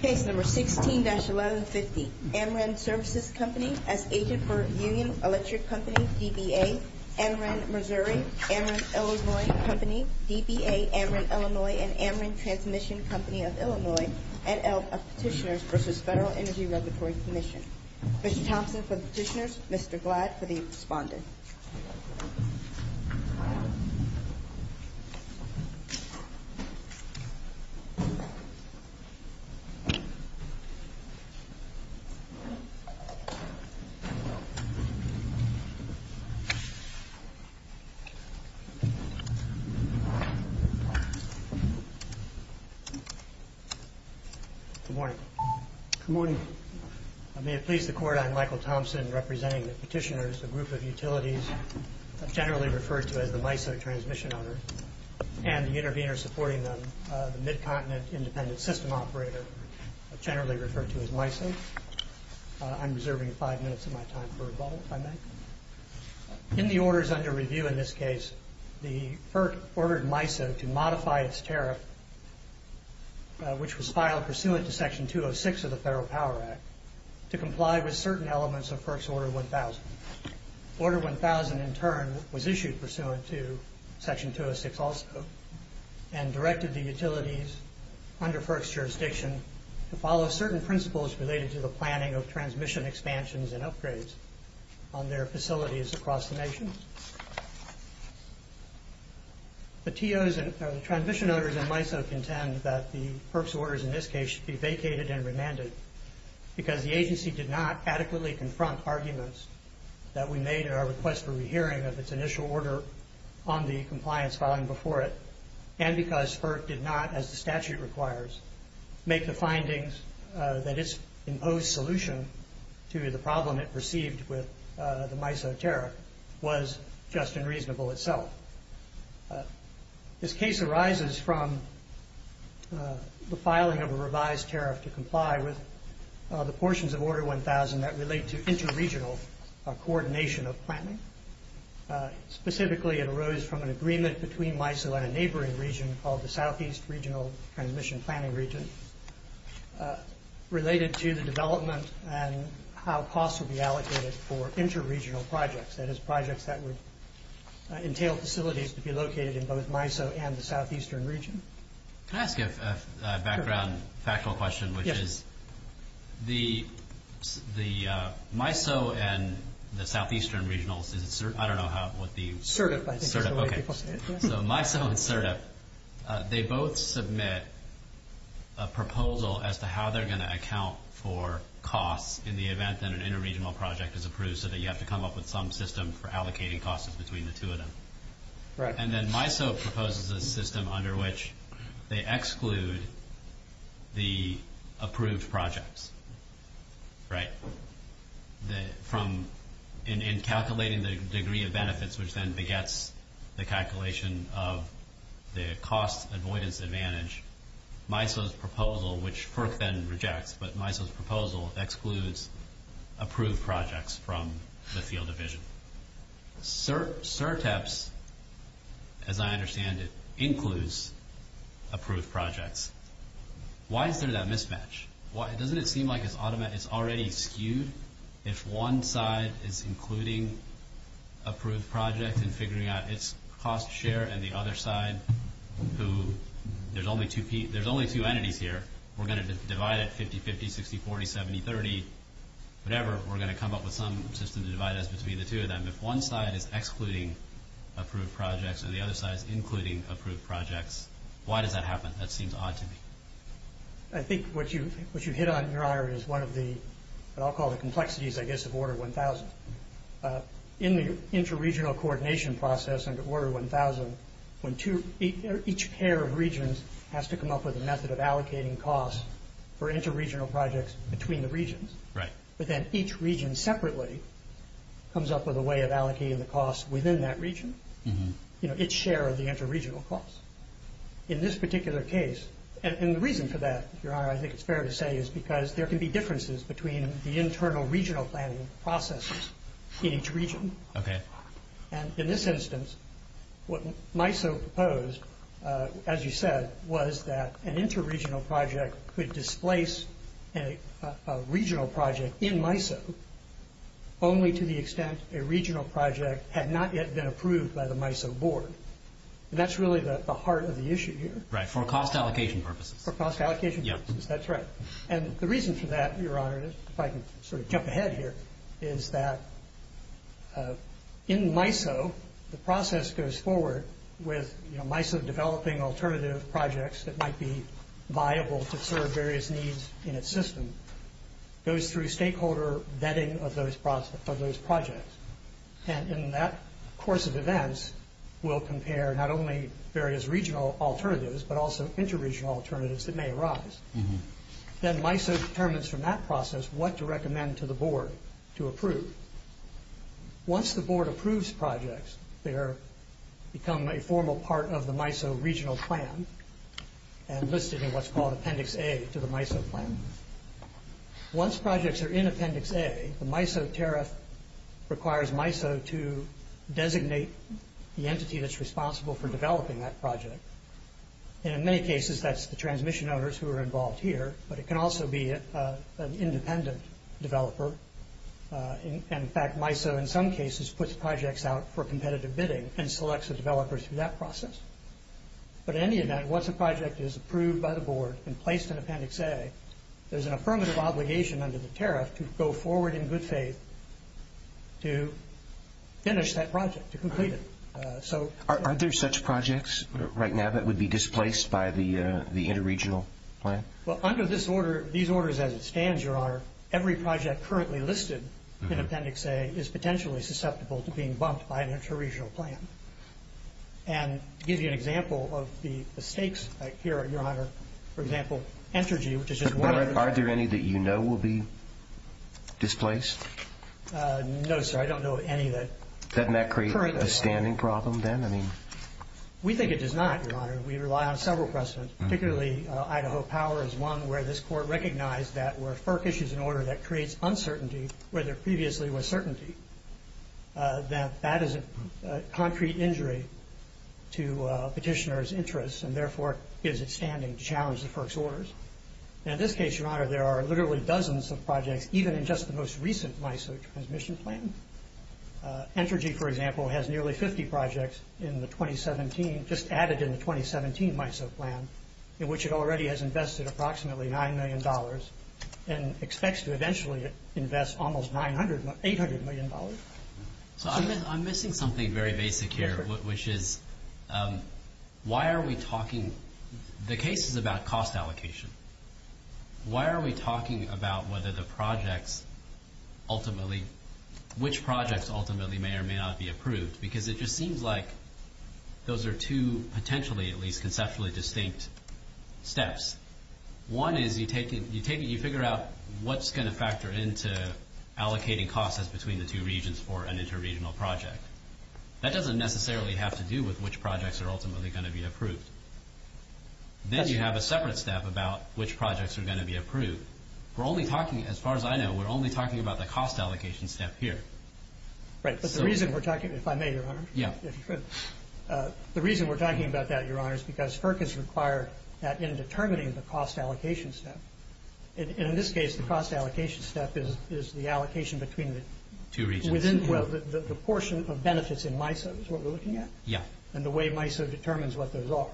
Case No. 16-1150. Ameren Services Company as agent for Union Electric Company, DBA, Ameren, Missouri, Ameren, Illinois Company, DBA, Ameren, Illinois, and Ameren Transmission Company of Illinois, and Elk of Petitioners v. Federal Energy Regulatory Commission. Mr. Thompson for the petitioners, Mr. Glad for the respondent. Good morning. Good morning. May it please the court, I'm Michael Thompson representing the petitioners, a group of utilities generally referred to as the MISO transmission owners, and the intervener supporting them, the Mid-Continent Independent System Operator, generally referred to as MISO. I'm reserving five minutes of my time for rebuttal, if I may. In the orders under review in this case, the FERC ordered MISO to modify its tariff, which was filed pursuant to Section 206 of the Federal Power Act, to comply with certain elements of FERC's Order 1000. Order 1000, in turn, was issued pursuant to Section 206 also, and directed the utilities under FERC's jurisdiction to follow certain principles related to the planning of transmission expansions and upgrades on their facilities across the nation. The TOs, or the transmission owners in MISO, contend that the FERC's orders in this case should be vacated and remanded, because the agency did not adequately confront arguments that we made in our request for rehearing of its initial order on the compliance filing before it, and because FERC did not, as the statute requires, make the findings that its imposed solution to the problem it perceived with the MISO tariff was just unreasonable itself. This case arises from the filing of a revised tariff to comply with the portions of Order 1000 that relate to inter-regional coordination of planning. Specifically, it arose from an agreement between MISO and a neighboring region called the Southeast Regional Transmission Planning Region, related to the development and how costs would be allocated for inter-regional projects, that is, projects that would entail facilities to be located in both MISO and the southeastern region. Can I ask a background, factual question, which is the MISO and the southeastern regionals, I don't know what the... SIRTEP, I think is the way people say it. So MISO and SIRTEP, they both submit a proposal as to how they're going to account for costs in the event that an inter-regional project is approved, so that you have to come up with some system for allocating costs between the two of them. Right. And then MISO proposes a system under which they exclude the approved projects. Right. In calculating the degree of benefits, which then begets the calculation of the cost avoidance advantage, MISO's proposal, which FERC then rejects, but MISO's proposal excludes approved projects from the field of vision. SIRTEP, as I understand it, includes approved projects. Why is there that mismatch? Doesn't it seem like it's already skewed? If one side is including approved projects and figuring out its cost share, and the other side who... There's only two entities here. We're going to divide it 50-50, 60-40, 70-30, whatever. We're going to come up with some system to divide us between the two of them. If one side is excluding approved projects and the other side is including approved projects, why does that happen? That seems odd to me. I think what you hit on, Your Honor, is one of the, what I'll call the complexities, I guess, of Order 1000. In the interregional coordination process under Order 1000, each pair of regions has to come up with a method of allocating costs for interregional projects between the regions. Right. But then each region separately comes up with a way of allocating the costs within that region, its share of the interregional costs. In this particular case, and the reason for that, Your Honor, I think it's fair to say, is because there can be differences between the internal regional planning processes in each region. Okay. And in this instance, what MISO proposed, as you said, was that an interregional project could displace a regional project in MISO only to the extent a regional project had not yet been approved by the MISO board. And that's really the heart of the issue here. Right. For cost allocation purposes. For cost allocation purposes. Yeah. That's right. And the reason for that, Your Honor, if I can sort of jump ahead here, is that in MISO, the process goes forward with MISO developing alternative projects that might be viable to serve various needs in its system, goes through stakeholder vetting of those projects. And in that course of events, we'll compare not only various regional alternatives, but also interregional alternatives that may arise. Then MISO determines from that process what to recommend to the board to approve. Once the board approves projects, they become a formal part of the MISO regional plan and listed in what's called Appendix A to the MISO plan. Once projects are in Appendix A, the MISO tariff requires MISO to designate the entity that's responsible for developing that project. And in many cases, that's the transmission owners who are involved here, but it can also be an independent developer. And, in fact, MISO in some cases puts projects out for competitive bidding and selects a developer through that process. But in any event, once a project is approved by the board and placed in Appendix A, there's an affirmative obligation under the tariff to go forward in good faith to finish that project, to complete it. Aren't there such projects right now that would be displaced by the interregional plan? Well, under these orders as it stands, Your Honor, every project currently listed in Appendix A is potentially susceptible to being bumped by an interregional plan. And to give you an example of the stakes here, Your Honor, for example, Entergy, which is just one of the- Are there any that you know will be displaced? No, sir. I don't know of any that- Doesn't that create a standing problem then? We think it does not, Your Honor. We rely on several precedents, particularly Idaho Power is one where this court recognized that where FERC issues an order that creates uncertainty where there previously was certainty, that that is a concrete injury to petitioner's interests and therefore gives it standing to challenge the FERC's orders. And in this case, Your Honor, there are literally dozens of projects, even in just the most recent MISO transmission plan. Entergy, for example, has nearly 50 projects in the 2017- just added in the 2017 MISO plan, in which it already has invested approximately $9 million and expects to eventually invest almost $800 million. So I'm missing something very basic here, which is why are we talking- The case is about cost allocation. Why are we talking about whether the projects ultimately- which projects ultimately may or may not be approved? Because it just seems like those are two potentially, at least conceptually distinct steps. One is you figure out what's going to factor into allocating costs between the two regions for an interregional project. That doesn't necessarily have to do with which projects are ultimately going to be approved. Then you have a separate step about which projects are going to be approved. We're only talking, as far as I know, we're only talking about the cost allocation step here. Right, but the reason we're talking- if I may, Your Honor. Yeah. The reason we're talking about that, Your Honor, is because FERC has required that in determining the cost allocation step. In this case, the cost allocation step is the allocation between the- Two regions. The portion of benefits in MISO is what we're looking at. Yeah. And the way MISO determines what those are.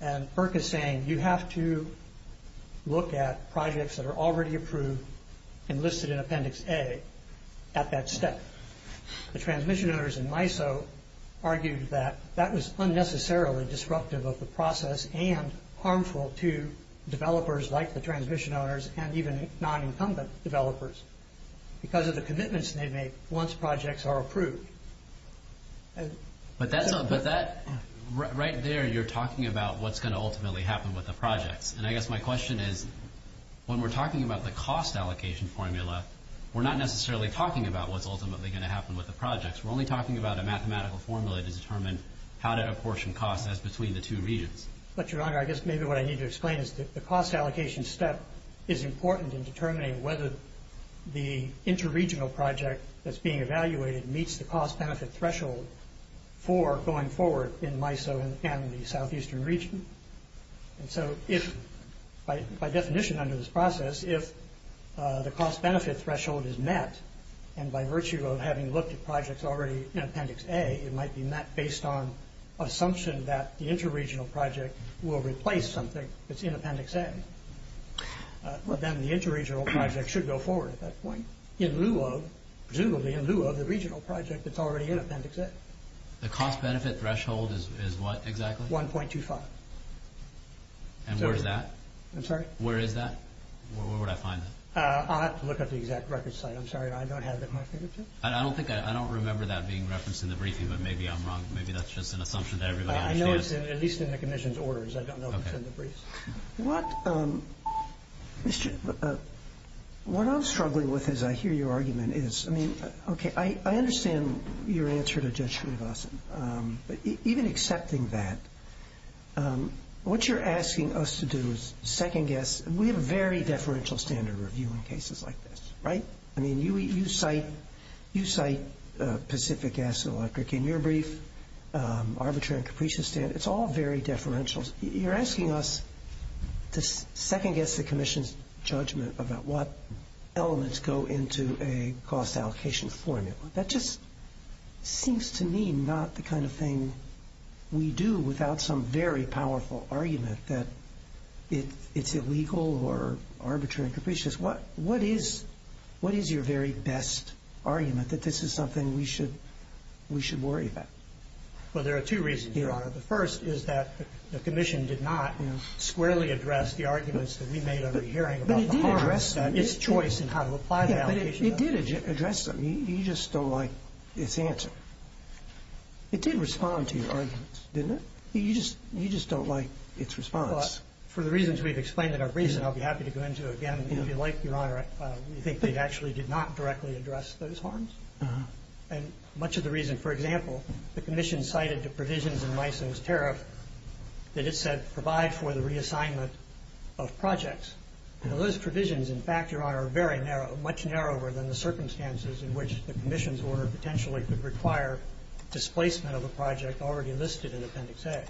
And FERC is saying you have to look at projects that are already approved and listed in Appendix A at that step. The transmission owners in MISO argued that that was unnecessarily disruptive of the process and harmful to developers like the transmission owners and even non-incumbent developers because of the commitments they make once projects are approved. But that- right there, you're talking about what's going to ultimately happen with the projects. And I guess my question is, when we're talking about the cost allocation formula, we're not necessarily talking about what's ultimately going to happen with the projects. We're only talking about a mathematical formula to determine how to apportion costs as between the two regions. But, Your Honor, I guess maybe what I need to explain is that the cost allocation step is important in determining whether the inter-regional project that's being evaluated meets the cost-benefit threshold for going forward in MISO and the southeastern region. And so if- by definition under this process, if the cost-benefit threshold is met and by virtue of having looked at projects already in Appendix A, it might be met based on assumption that the inter-regional project will replace something that's in Appendix A. Well, then the inter-regional project should go forward at that point in lieu of- presumably in lieu of the regional project that's already in Appendix A. The cost-benefit threshold is what exactly? 1.25. And where is that? I'm sorry? Where is that? Where would I find it? I'll have to look up the exact record site. I'm sorry, I don't have it in my fingertips. I don't think I- I don't remember that being referenced in the briefing, but maybe I'm wrong. Maybe that's just an assumption that everybody understands. I know it's in- at least in the Commission's orders. I don't know if it's in the briefs. What- Mr.- what I'm struggling with as I hear your argument is- I mean, okay, I understand your answer to Judge Srinivasan, but even accepting that, what you're asking us to do is second-guess- and we have a very deferential standard review in cases like this, right? I mean, you cite- you cite Pacific Gas and Electric in your brief, arbitrary and capricious standard. It's all very deferential. You're asking us to second-guess the Commission's judgment about what elements go into a cost allocation formula. That just seems to me not the kind of thing we do without some very powerful argument that it's illegal or arbitrary and capricious. What- what is- what is your very best argument that this is something we should- we should worry about? The first is that the Commission did not squarely address the arguments that we made over the hearing about the harms- But it did address them. It's choice in how to apply the allocation- Yeah, but it did address them. You just don't like its answer. It did respond to your arguments, didn't it? You just- you just don't like its response. Well, for the reasons we've explained in our briefs, and I'll be happy to go into it again, if you like, Your Honor, we think they actually did not directly address those harms. Uh-huh. And much of the reason- for example, the Commission cited the provisions in Lyson's tariff that it said provide for the reassignment of projects. Now, those provisions, in fact, Your Honor, are very narrow- much narrower than the circumstances in which the Commission's order potentially could require displacement of a project already listed in Appendix A.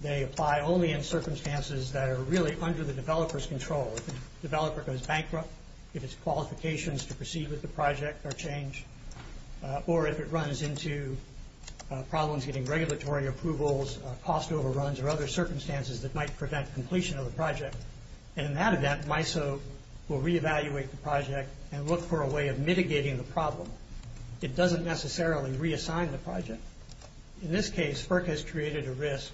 They apply only in circumstances that are really under the developer's control. If the developer goes bankrupt, if its qualifications to proceed with the project are changed, or if it runs into problems getting regulatory approvals, cost overruns, or other circumstances that might prevent completion of the project. And in that event, MISO will reevaluate the project and look for a way of mitigating the problem. It doesn't necessarily reassign the project. In this case, FERC has created a risk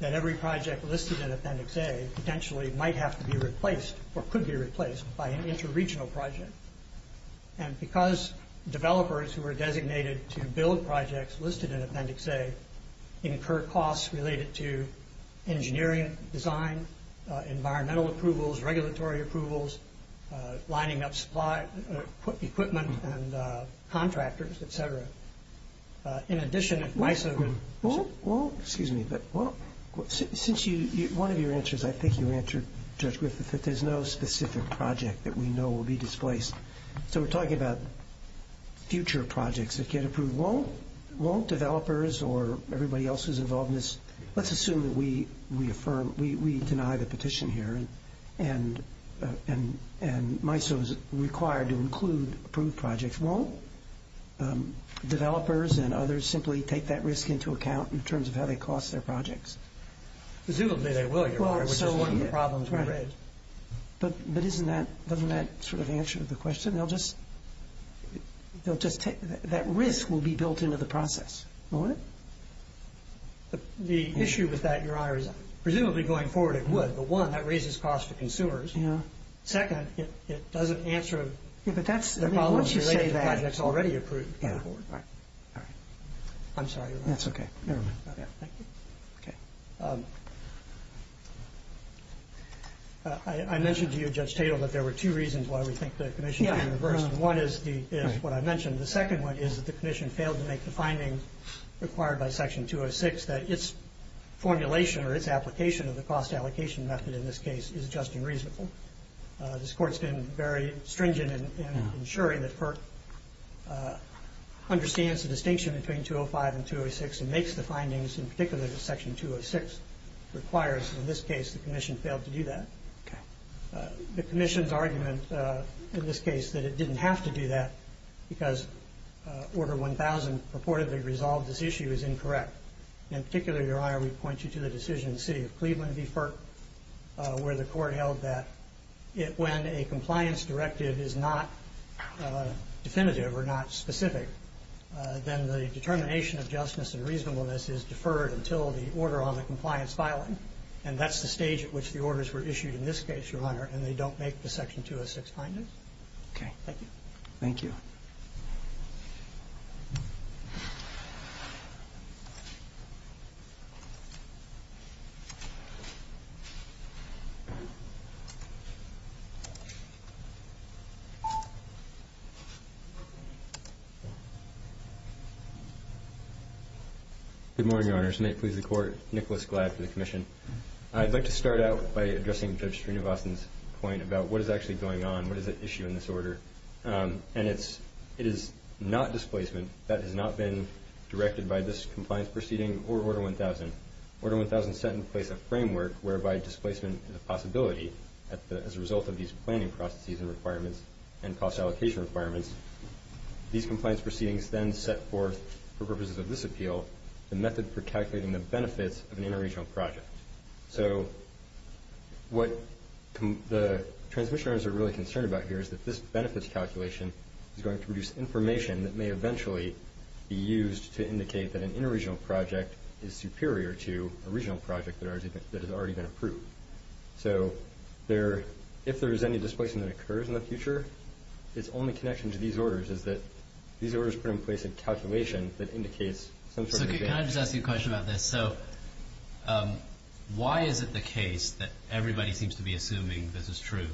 that every project listed in Appendix A potentially might have to be replaced, or could be replaced, by an inter-regional project. And because developers who are designated to build projects listed in Appendix A incur costs related to engineering, design, environmental approvals, regulatory approvals, lining up supply equipment and contractors, et cetera. In addition, if MISO- Well, excuse me, but since one of your answers, I think you answered Judge Griffith, that there's no specific project that we know will be displaced. So we're talking about future projects that get approved. Won't developers or everybody else who's involved in this- We deny the petition here, and MISO is required to include approved projects. Won't developers and others simply take that risk into account in terms of how they cost their projects? Presumably they will, Your Honor, which is one of the problems we raised. But doesn't that sort of answer the question? That risk will be built into the process, won't it? The issue with that, Your Honor, is presumably going forward it would. But, one, that raises costs to consumers. Second, it doesn't answer the problem- But that's- I mean, once you say that- It's already approved by the board. All right. I'm sorry, Your Honor. That's okay. Never mind. Thank you. Okay. I mentioned to you, Judge Tatel, that there were two reasons why we think the commission should be reversed. One is what I mentioned. The second one is that the commission failed to make the findings required by Section 206, that its formulation or its application of the cost allocation method, in this case, is just and reasonable. This Court's been very stringent in ensuring that FERC understands the distinction between 205 and 206 and makes the findings, in particular, that Section 206 requires. In this case, the commission failed to do that. Okay. The commission's argument, in this case, that it didn't have to do that because Order 1000 purportedly resolved this issue is incorrect. In particular, Your Honor, we point you to the decision in the City of Cleveland v. FERC, where the Court held that when a compliance directive is not definitive or not specific, then the determination of justness and reasonableness is deferred until the order on the compliance filing. And that's the stage at which the orders were issued in this case, Your Honor, and they don't make the Section 206 findings. Okay. Thank you. Thank you. Thank you. Good morning, Your Honors. May it please the Court, Nicholas Gladd for the commission. I'd like to start out by addressing Judge Srinivasan's point about what is actually going on, what is at issue in this order. And it is not displacement that has not been directed by this compliance proceeding or Order 1000. Order 1000 set in place a framework whereby displacement is a possibility as a result of these planning processes and requirements and cost allocation requirements. These compliance proceedings then set forth, for purposes of this appeal, the method for calculating the benefits of an interregional project. So what the transmission owners are really concerned about here is that this benefits calculation is going to produce information that may eventually be used to indicate that an interregional project is superior to a regional project that has already been approved. So if there is any displacement that occurs in the future, its only connection to these orders is that these orders put in place a calculation that indicates some sort of So why is it the case that everybody seems to be assuming this is true,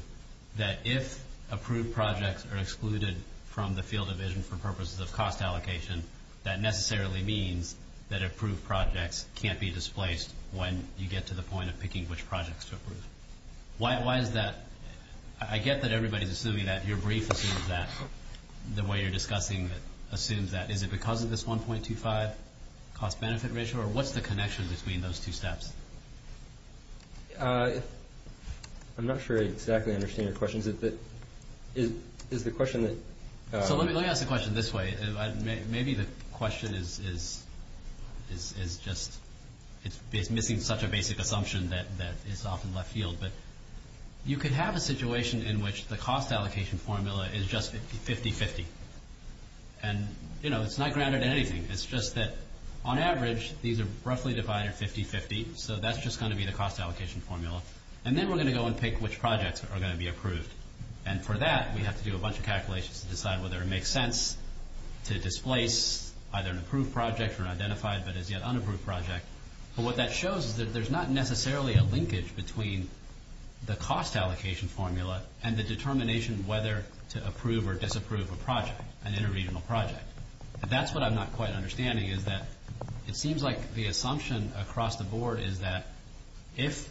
that if approved projects are excluded from the field of vision for purposes of cost allocation, that necessarily means that approved projects can't be displaced when you get to the point of picking which projects to approve? Why is that? I get that everybody is assuming that. Your brief assumes that. The way you're discussing it assumes that. Is it because of this 1.25 cost-benefit ratio? Or what's the connection between those two steps? I'm not sure I exactly understand your question. Let me ask the question this way. Maybe the question is missing such a basic assumption that it's often left field. You can have a situation in which the cost allocation formula is just 50-50. It's not grounded in anything. It's just that on average, these are roughly divided 50-50. So that's just going to be the cost allocation formula. And then we're going to go and pick which projects are going to be approved. And for that, we have to do a bunch of calculations to decide whether it makes sense to displace either an approved project or an identified but as yet unapproved project. But what that shows is that there's not necessarily a linkage between the cost allocation formula and the determination whether to approve or disapprove a project, an inter-regional project. That's what I'm not quite understanding is that it seems like the assumption across the board is that if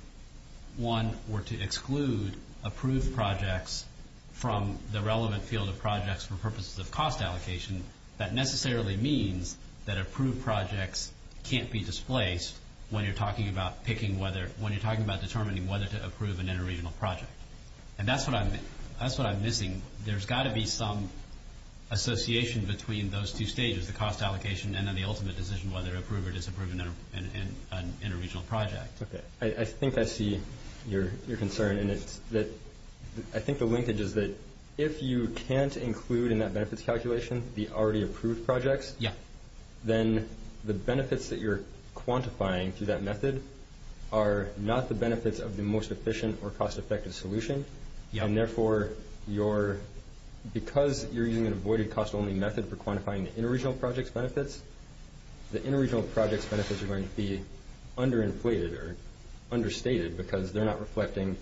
one were to exclude approved projects from the relevant field of projects for purposes of cost allocation, that necessarily means that approved projects can't be displaced when you're talking about determining whether to approve an inter-regional project. And that's what I'm missing. There's got to be some association between those two stages, the cost allocation and then the ultimate decision whether to approve or disapprove an inter-regional project. Okay. I think I see your concern. And I think the linkage is that if you can't include in that benefits calculation the already approved projects, then the benefits that you're quantifying through that method are not the benefits of the most efficient or cost-effective solution. And therefore, because you're using an avoided cost-only method for quantifying the inter-regional project's benefits, the inter-regional project's benefits are going to be under-inflated or understated because they're not reflecting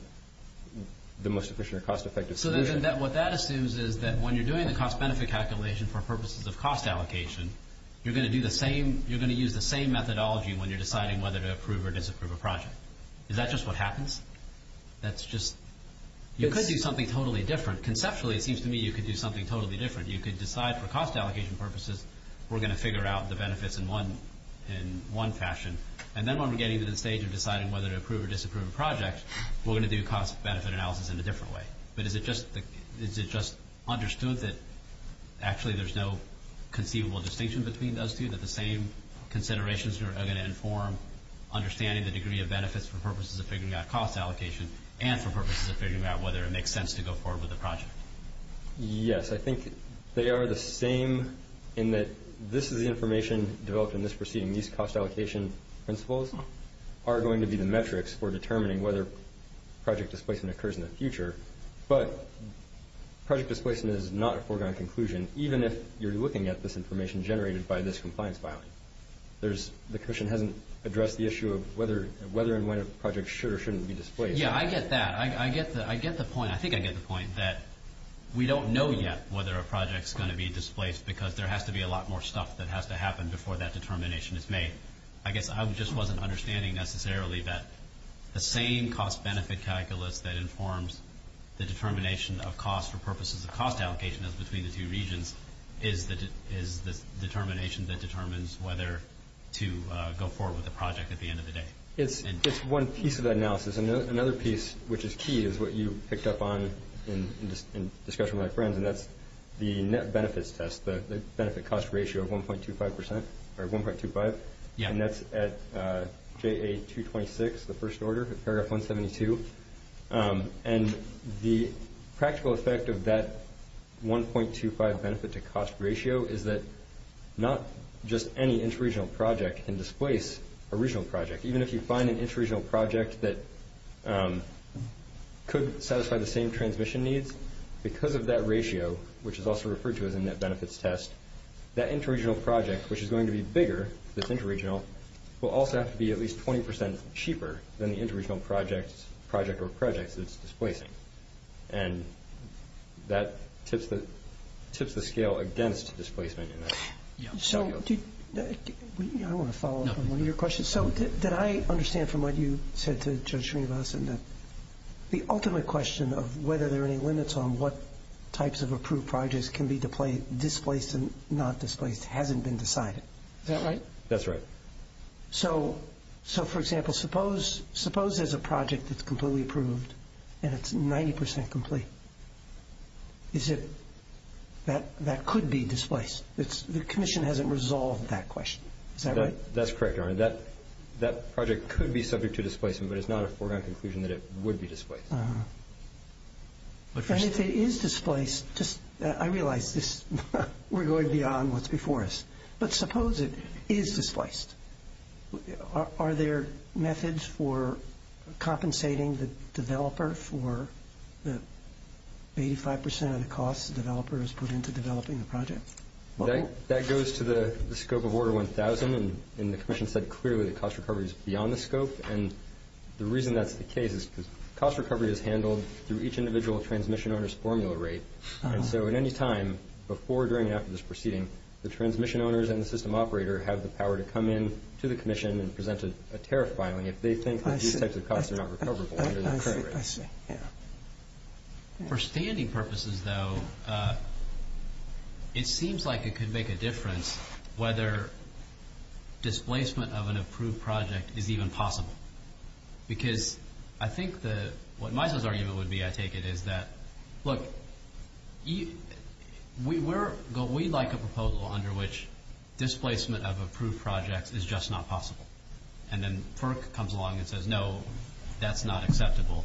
the most efficient or cost-effective solution. So what that assumes is that when you're doing the cost-benefit calculation for purposes of cost allocation, you're going to use the same methodology when you're deciding whether to approve or disapprove a project. Is that just what happens? You could do something totally different. Conceptually, it seems to me you could do something totally different. You could decide for cost allocation purposes, we're going to figure out the benefits in one fashion. And then when we're getting to the stage of deciding whether to approve or disapprove a project, we're going to do cost-benefit analysis in a different way. But is it just understood that actually there's no conceivable distinction between those two, that the same considerations are going to inform understanding the degree of benefits for purposes of figuring out cost allocation and for purposes of figuring out whether it makes sense to go forward with the project? Yes. I think they are the same in that this is the information developed in this proceeding. These cost allocation principles are going to be the metrics for determining whether project displacement occurs in the future. But project displacement is not a foregone conclusion, even if you're looking at this information generated by this compliance filing. The Commission hasn't addressed the issue of whether and when a project should or shouldn't be displaced. Yeah, I get that. I get the point. I think I get the point that we don't know yet whether a project is going to be displaced because there has to be a lot more stuff that has to happen before that determination is made. I guess I just wasn't understanding necessarily that the same cost-benefit calculus that informs the determination of cost for purposes of cost allocation as between the two regions is the determination that determines whether to go forward with the project at the end of the day. It's one piece of that analysis. Another piece, which is key, is what you picked up on in discussion with my friends, and that's the net benefits test, the benefit-cost ratio of 1.25%. And that's at JA-226, the first order, paragraph 172. And the practical effect of that 1.25 benefit-to-cost ratio is that not just any interregional project can displace a regional project. Even if you find an interregional project that could satisfy the same transmission needs, because of that ratio, which is also referred to as a net benefits test, that interregional project, which is going to be bigger, that's interregional, will also have to be at least 20% cheaper than the interregional project or projects it's displacing. And that tips the scale against displacement. So I want to follow up on one of your questions. So did I understand from what you said to Judge Srinivasan that the ultimate question of whether there are any limits on what types of approved projects can be displaced and not displaced hasn't been decided? Is that right? That's right. So, for example, suppose there's a project that's completely approved and it's 90% complete. Is it that that could be displaced? The Commission hasn't resolved that question. Is that right? That's correct, Your Honor. That project could be subject to displacement, but it's not a foregone conclusion that it would be displaced. And if it is displaced, I realize we're going beyond what's before us. But suppose it is displaced. Are there methods for compensating the developer for the 85% of the costs the developer has put into developing the project? That goes to the scope of Order 1000, and the Commission said clearly that cost recovery is beyond the scope. And the reason that's the case is because cost recovery is handled through each individual transmission owner's formula rate. And so at any time, before, during, and after this proceeding, the transmission owners and the system operator have the power to come in to the Commission and present a tariff filing if they think that these types of costs are not recoverable under the current rate. I see. For standing purposes, though, it seems like it could make a difference whether displacement of an approved project is even possible. Because I think what Misa's argument would be, I take it, is that, look, we'd like a proposal under which displacement of approved projects is just not possible. And then FERC comes along and says, no, that's not acceptable.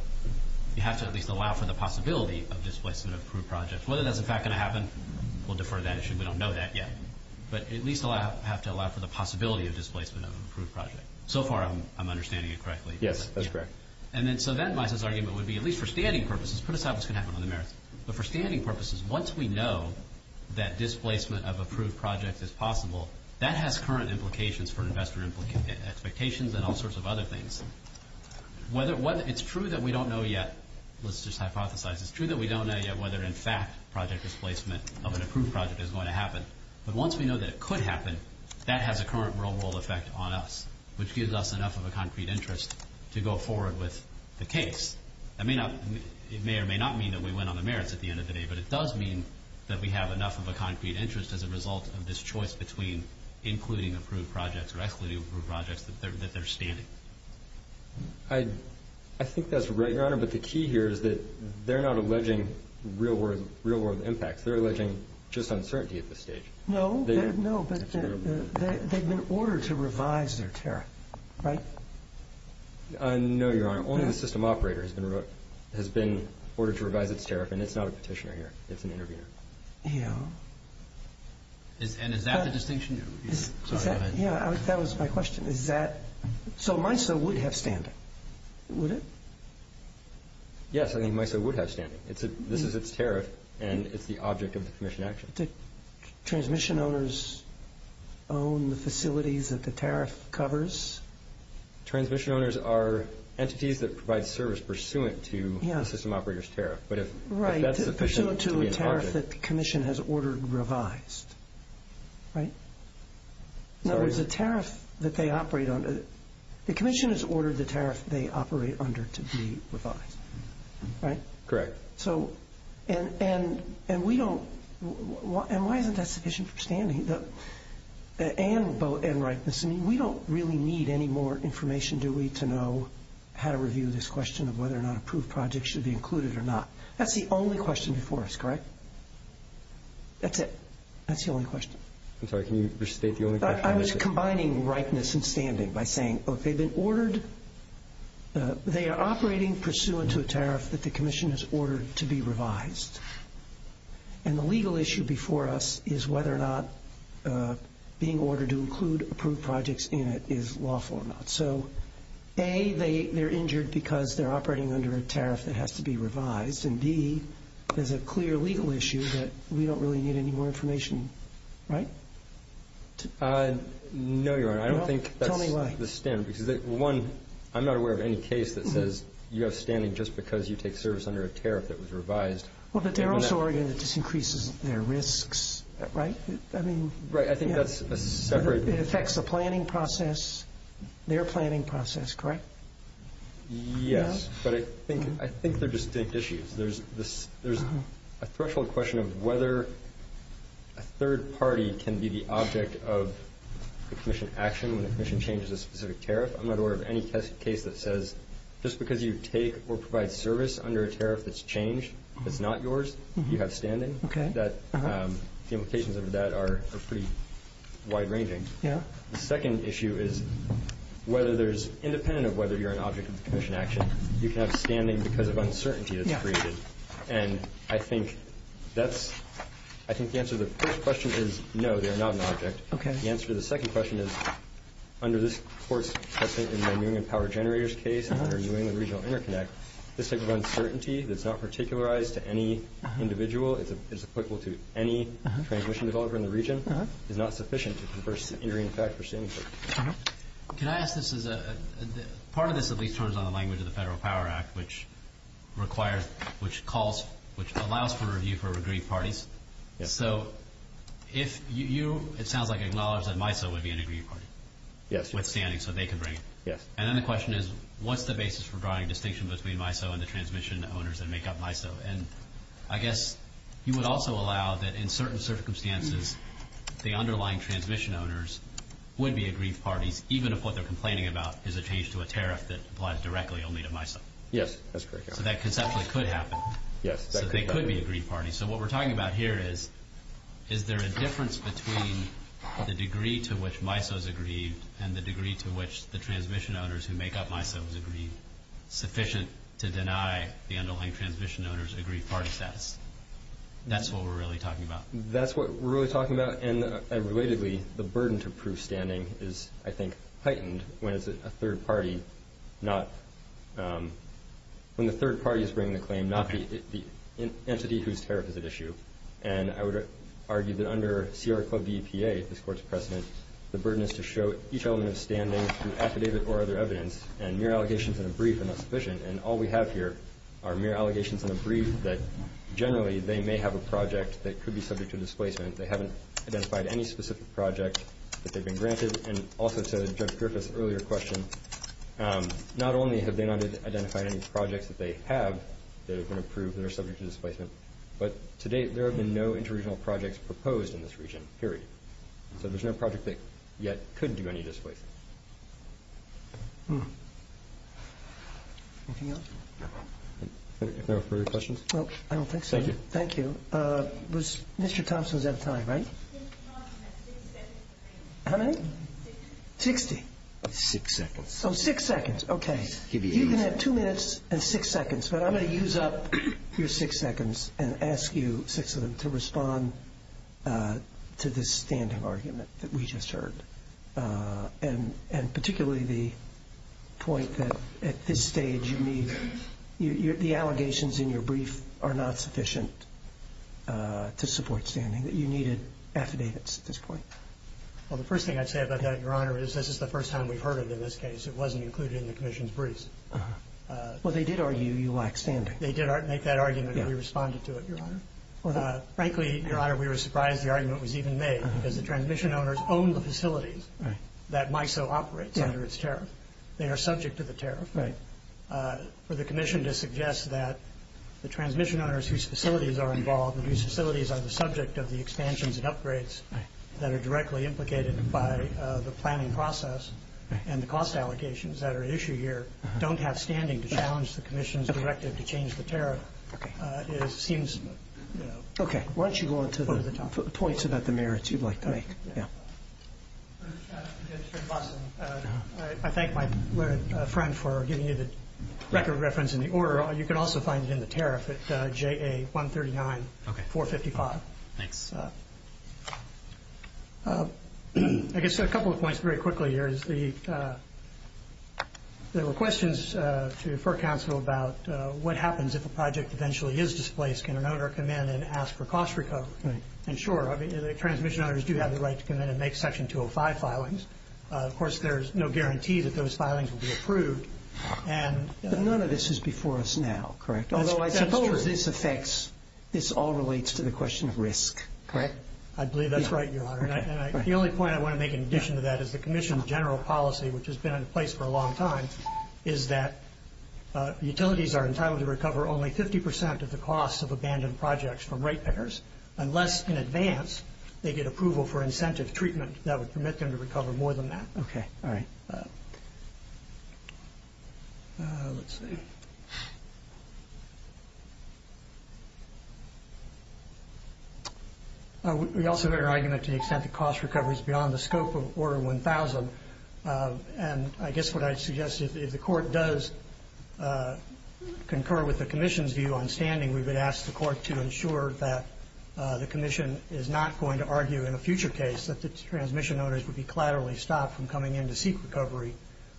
You have to at least allow for the possibility of displacement of approved projects. Whether that's in fact going to happen, we'll defer to that issue. We don't know that yet. But at least have to allow for the possibility of displacement of an approved project. So far I'm understanding it correctly. Yes, that's correct. So then Misa's argument would be, at least for standing purposes, put aside what's going to happen on the merits. But for standing purposes, once we know that displacement of approved projects is possible, that has current implications for investor expectations and all sorts of other things. It's true that we don't know yet. Let's just hypothesize. It's true that we don't know yet whether in fact project displacement of an approved project is going to happen. But once we know that it could happen, that has a current real-world effect on us, which gives us enough of a concrete interest to go forward with the case. It may or may not mean that we win on the merits at the end of the day, but it does mean that we have enough of a concrete interest as a result of this choice between including approved projects or excluding approved projects that they're standing. I think that's right, Your Honor. But the key here is that they're not alleging real-world impacts. They're alleging just uncertainty at this stage. No, but they've been ordered to revise their tariff, right? No, Your Honor. Only the system operator has been ordered to revise its tariff, and it's not a petitioner here. It's an intervener. Yeah. And is that the distinction? Yeah, that was my question. So MISO would have standing, would it? Yes, I think MISO would have standing. This is its tariff, and it's the object of the commission action. Do transmission owners own the facilities that the tariff covers? Transmission owners are entities that provide service pursuant to the system operator's tariff. Right, pursuant to a tariff that the commission has ordered revised, right? No, there's a tariff that they operate under. The commission has ordered the tariff they operate under to be revised, right? Correct. And why isn't that sufficient for standing and rightness? I mean, we don't really need any more information, do we, to know how to review this question of whether or not approved projects should be included or not. That's the only question before us, correct? That's it. That's the only question. I'm sorry, can you restate the only question? I was combining rightness and standing by saying, look, they've been ordered. They are operating pursuant to a tariff that the commission has ordered to be revised. And the legal issue before us is whether or not being ordered to include approved projects in it is lawful or not. So, A, they're injured because they're operating under a tariff that has to be revised, and, B, there's a clear legal issue that we don't really need any more information, right? No, Your Honor, I don't think that's the standard. Tell me why. Because, one, I'm not aware of any case that says you have standing just because you take service under a tariff that was revised. Well, but they're also ordering it just increases their risks, right? Right, I think that's a separate. It affects the planning process, their planning process, correct? Yes, but I think they're distinct issues. There's a threshold question of whether a third party can be the object of the commission action when the commission changes a specific tariff. I'm not aware of any case that says just because you take or provide service under a tariff that's changed, it's not yours, you have standing. The implications of that are pretty wide-ranging. Yeah. The second issue is, independent of whether you're an object of the commission action, you can have standing because of uncertainty that's created. And I think the answer to the first question is, no, they're not an object. The answer to the second question is, under this Court's precedent in the Union Power Generators case, under New England Regional Interconnect, this type of uncertainty that's not particularized to any individual, it's applicable to any transmission developer in the region, is not sufficient to converse the injury in effect for standing. Can I ask this as a – part of this at least turns on the language of the Federal Power Act, which requires – which calls – which allows for review for agreed parties. So if you – it sounds like you acknowledge that MISO would be an agreed party. Yes. Withstanding, so they can bring it. Yes. And then the question is, what's the basis for drawing a distinction between MISO and the transmission owners that make up MISO? And I guess you would also allow that in certain circumstances the underlying transmission owners would be agreed parties, even if what they're complaining about is a change to a tariff that applies directly only to MISO. Yes, that's correct. So that conceptually could happen. Yes. So they could be agreed parties. So what we're talking about here is, is there a difference between the degree to which MISO is agreed and the degree to which the transmission owners who make up MISO is agreed, sufficient to deny the underlying transmission owners agreed party status? That's what we're really talking about. That's what we're really talking about. And relatedly, the burden to prove standing is, I think, heightened when it's a third party not – when the third party is bringing the claim, not the entity whose tariff is at issue. And I would argue that under CR Club DEPA, this Court's precedent, the burden is to show each element of standing through affidavit or other evidence, and mere allegations in a brief are not sufficient. And all we have here are mere allegations in a brief that generally they may have a project that could be subject to displacement. They haven't identified any specific project that they've been granted. And also to Judge Griffith's earlier question, not only have they not identified any projects that they have that have been approved that are subject to displacement, but to date there have been no interregional projects proposed in this region, period. So there's no project that yet could do any displacement. Anything else? No. No further questions? Well, I don't think so. Thank you. Thank you. Was – Mr. Thompson's out of time, right? How many? Sixty. Sixty. Six seconds. Oh, six seconds. Okay. You can have two minutes and six seconds, but I'm going to use up your six seconds and ask you, six of them, to respond to this standing argument that we just heard and particularly the point that at this stage you need – the allegations in your brief are not sufficient to support standing, that you needed affidavits at this point. Well, the first thing I'd say about that, Your Honor, is this is the first time we've heard it in this case. It wasn't included in the Commission's brief. Well, they did argue you lack standing. They did make that argument. We responded to it, Your Honor. Frankly, Your Honor, we were surprised the argument was even made because the transmission owners own the facilities that MISO operates under its tariff. They are subject to the tariff. For the Commission to suggest that the transmission owners whose facilities are involved and whose facilities are the subject of the expansions and upgrades that are directly implicated by the planning process and the cost allegations that are at issue here Okay. Why don't you go on to the points about the merits you'd like to make. I thank my friend for giving you the record reference in the order. You can also find it in the tariff at JA139-455. Thanks. I guess a couple of points very quickly here. There were questions for counsel about what happens if a project eventually is displaced. Can an owner come in and ask for cost recovery? And sure, the transmission owners do have the right to come in and make Section 205 filings. Of course, there's no guarantee that those filings will be approved. None of this is before us now, correct? Although I suppose this affects, this all relates to the question of risk, correct? I believe that's right, Your Honor. The only point I want to make in addition to that is the Commission's general policy, which has been in place for a long time, is that utilities are entitled to recover only 50% of the costs of abandoned projects from ratepayers unless, in advance, they get approval for incentive treatment that would permit them to recover more than that. Okay. All right. Let's see. We also hear argument to the extent that cost recovery is beyond the scope of Order 1000. And I guess what I'd suggest is if the Court does concur with the Commission's view on standing, we would ask the Court to ensure that the Commission is not going to argue in a future case that the transmission owners would be collaterally stopped from coming in to seek recovery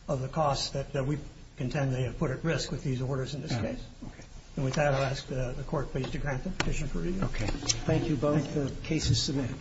of the costs that we contend they have put at risk with these orders in this case. All right. Okay. And with that, I'll ask the Court, please, to grant the petition for review. Okay. Thank you both. The case is submitted.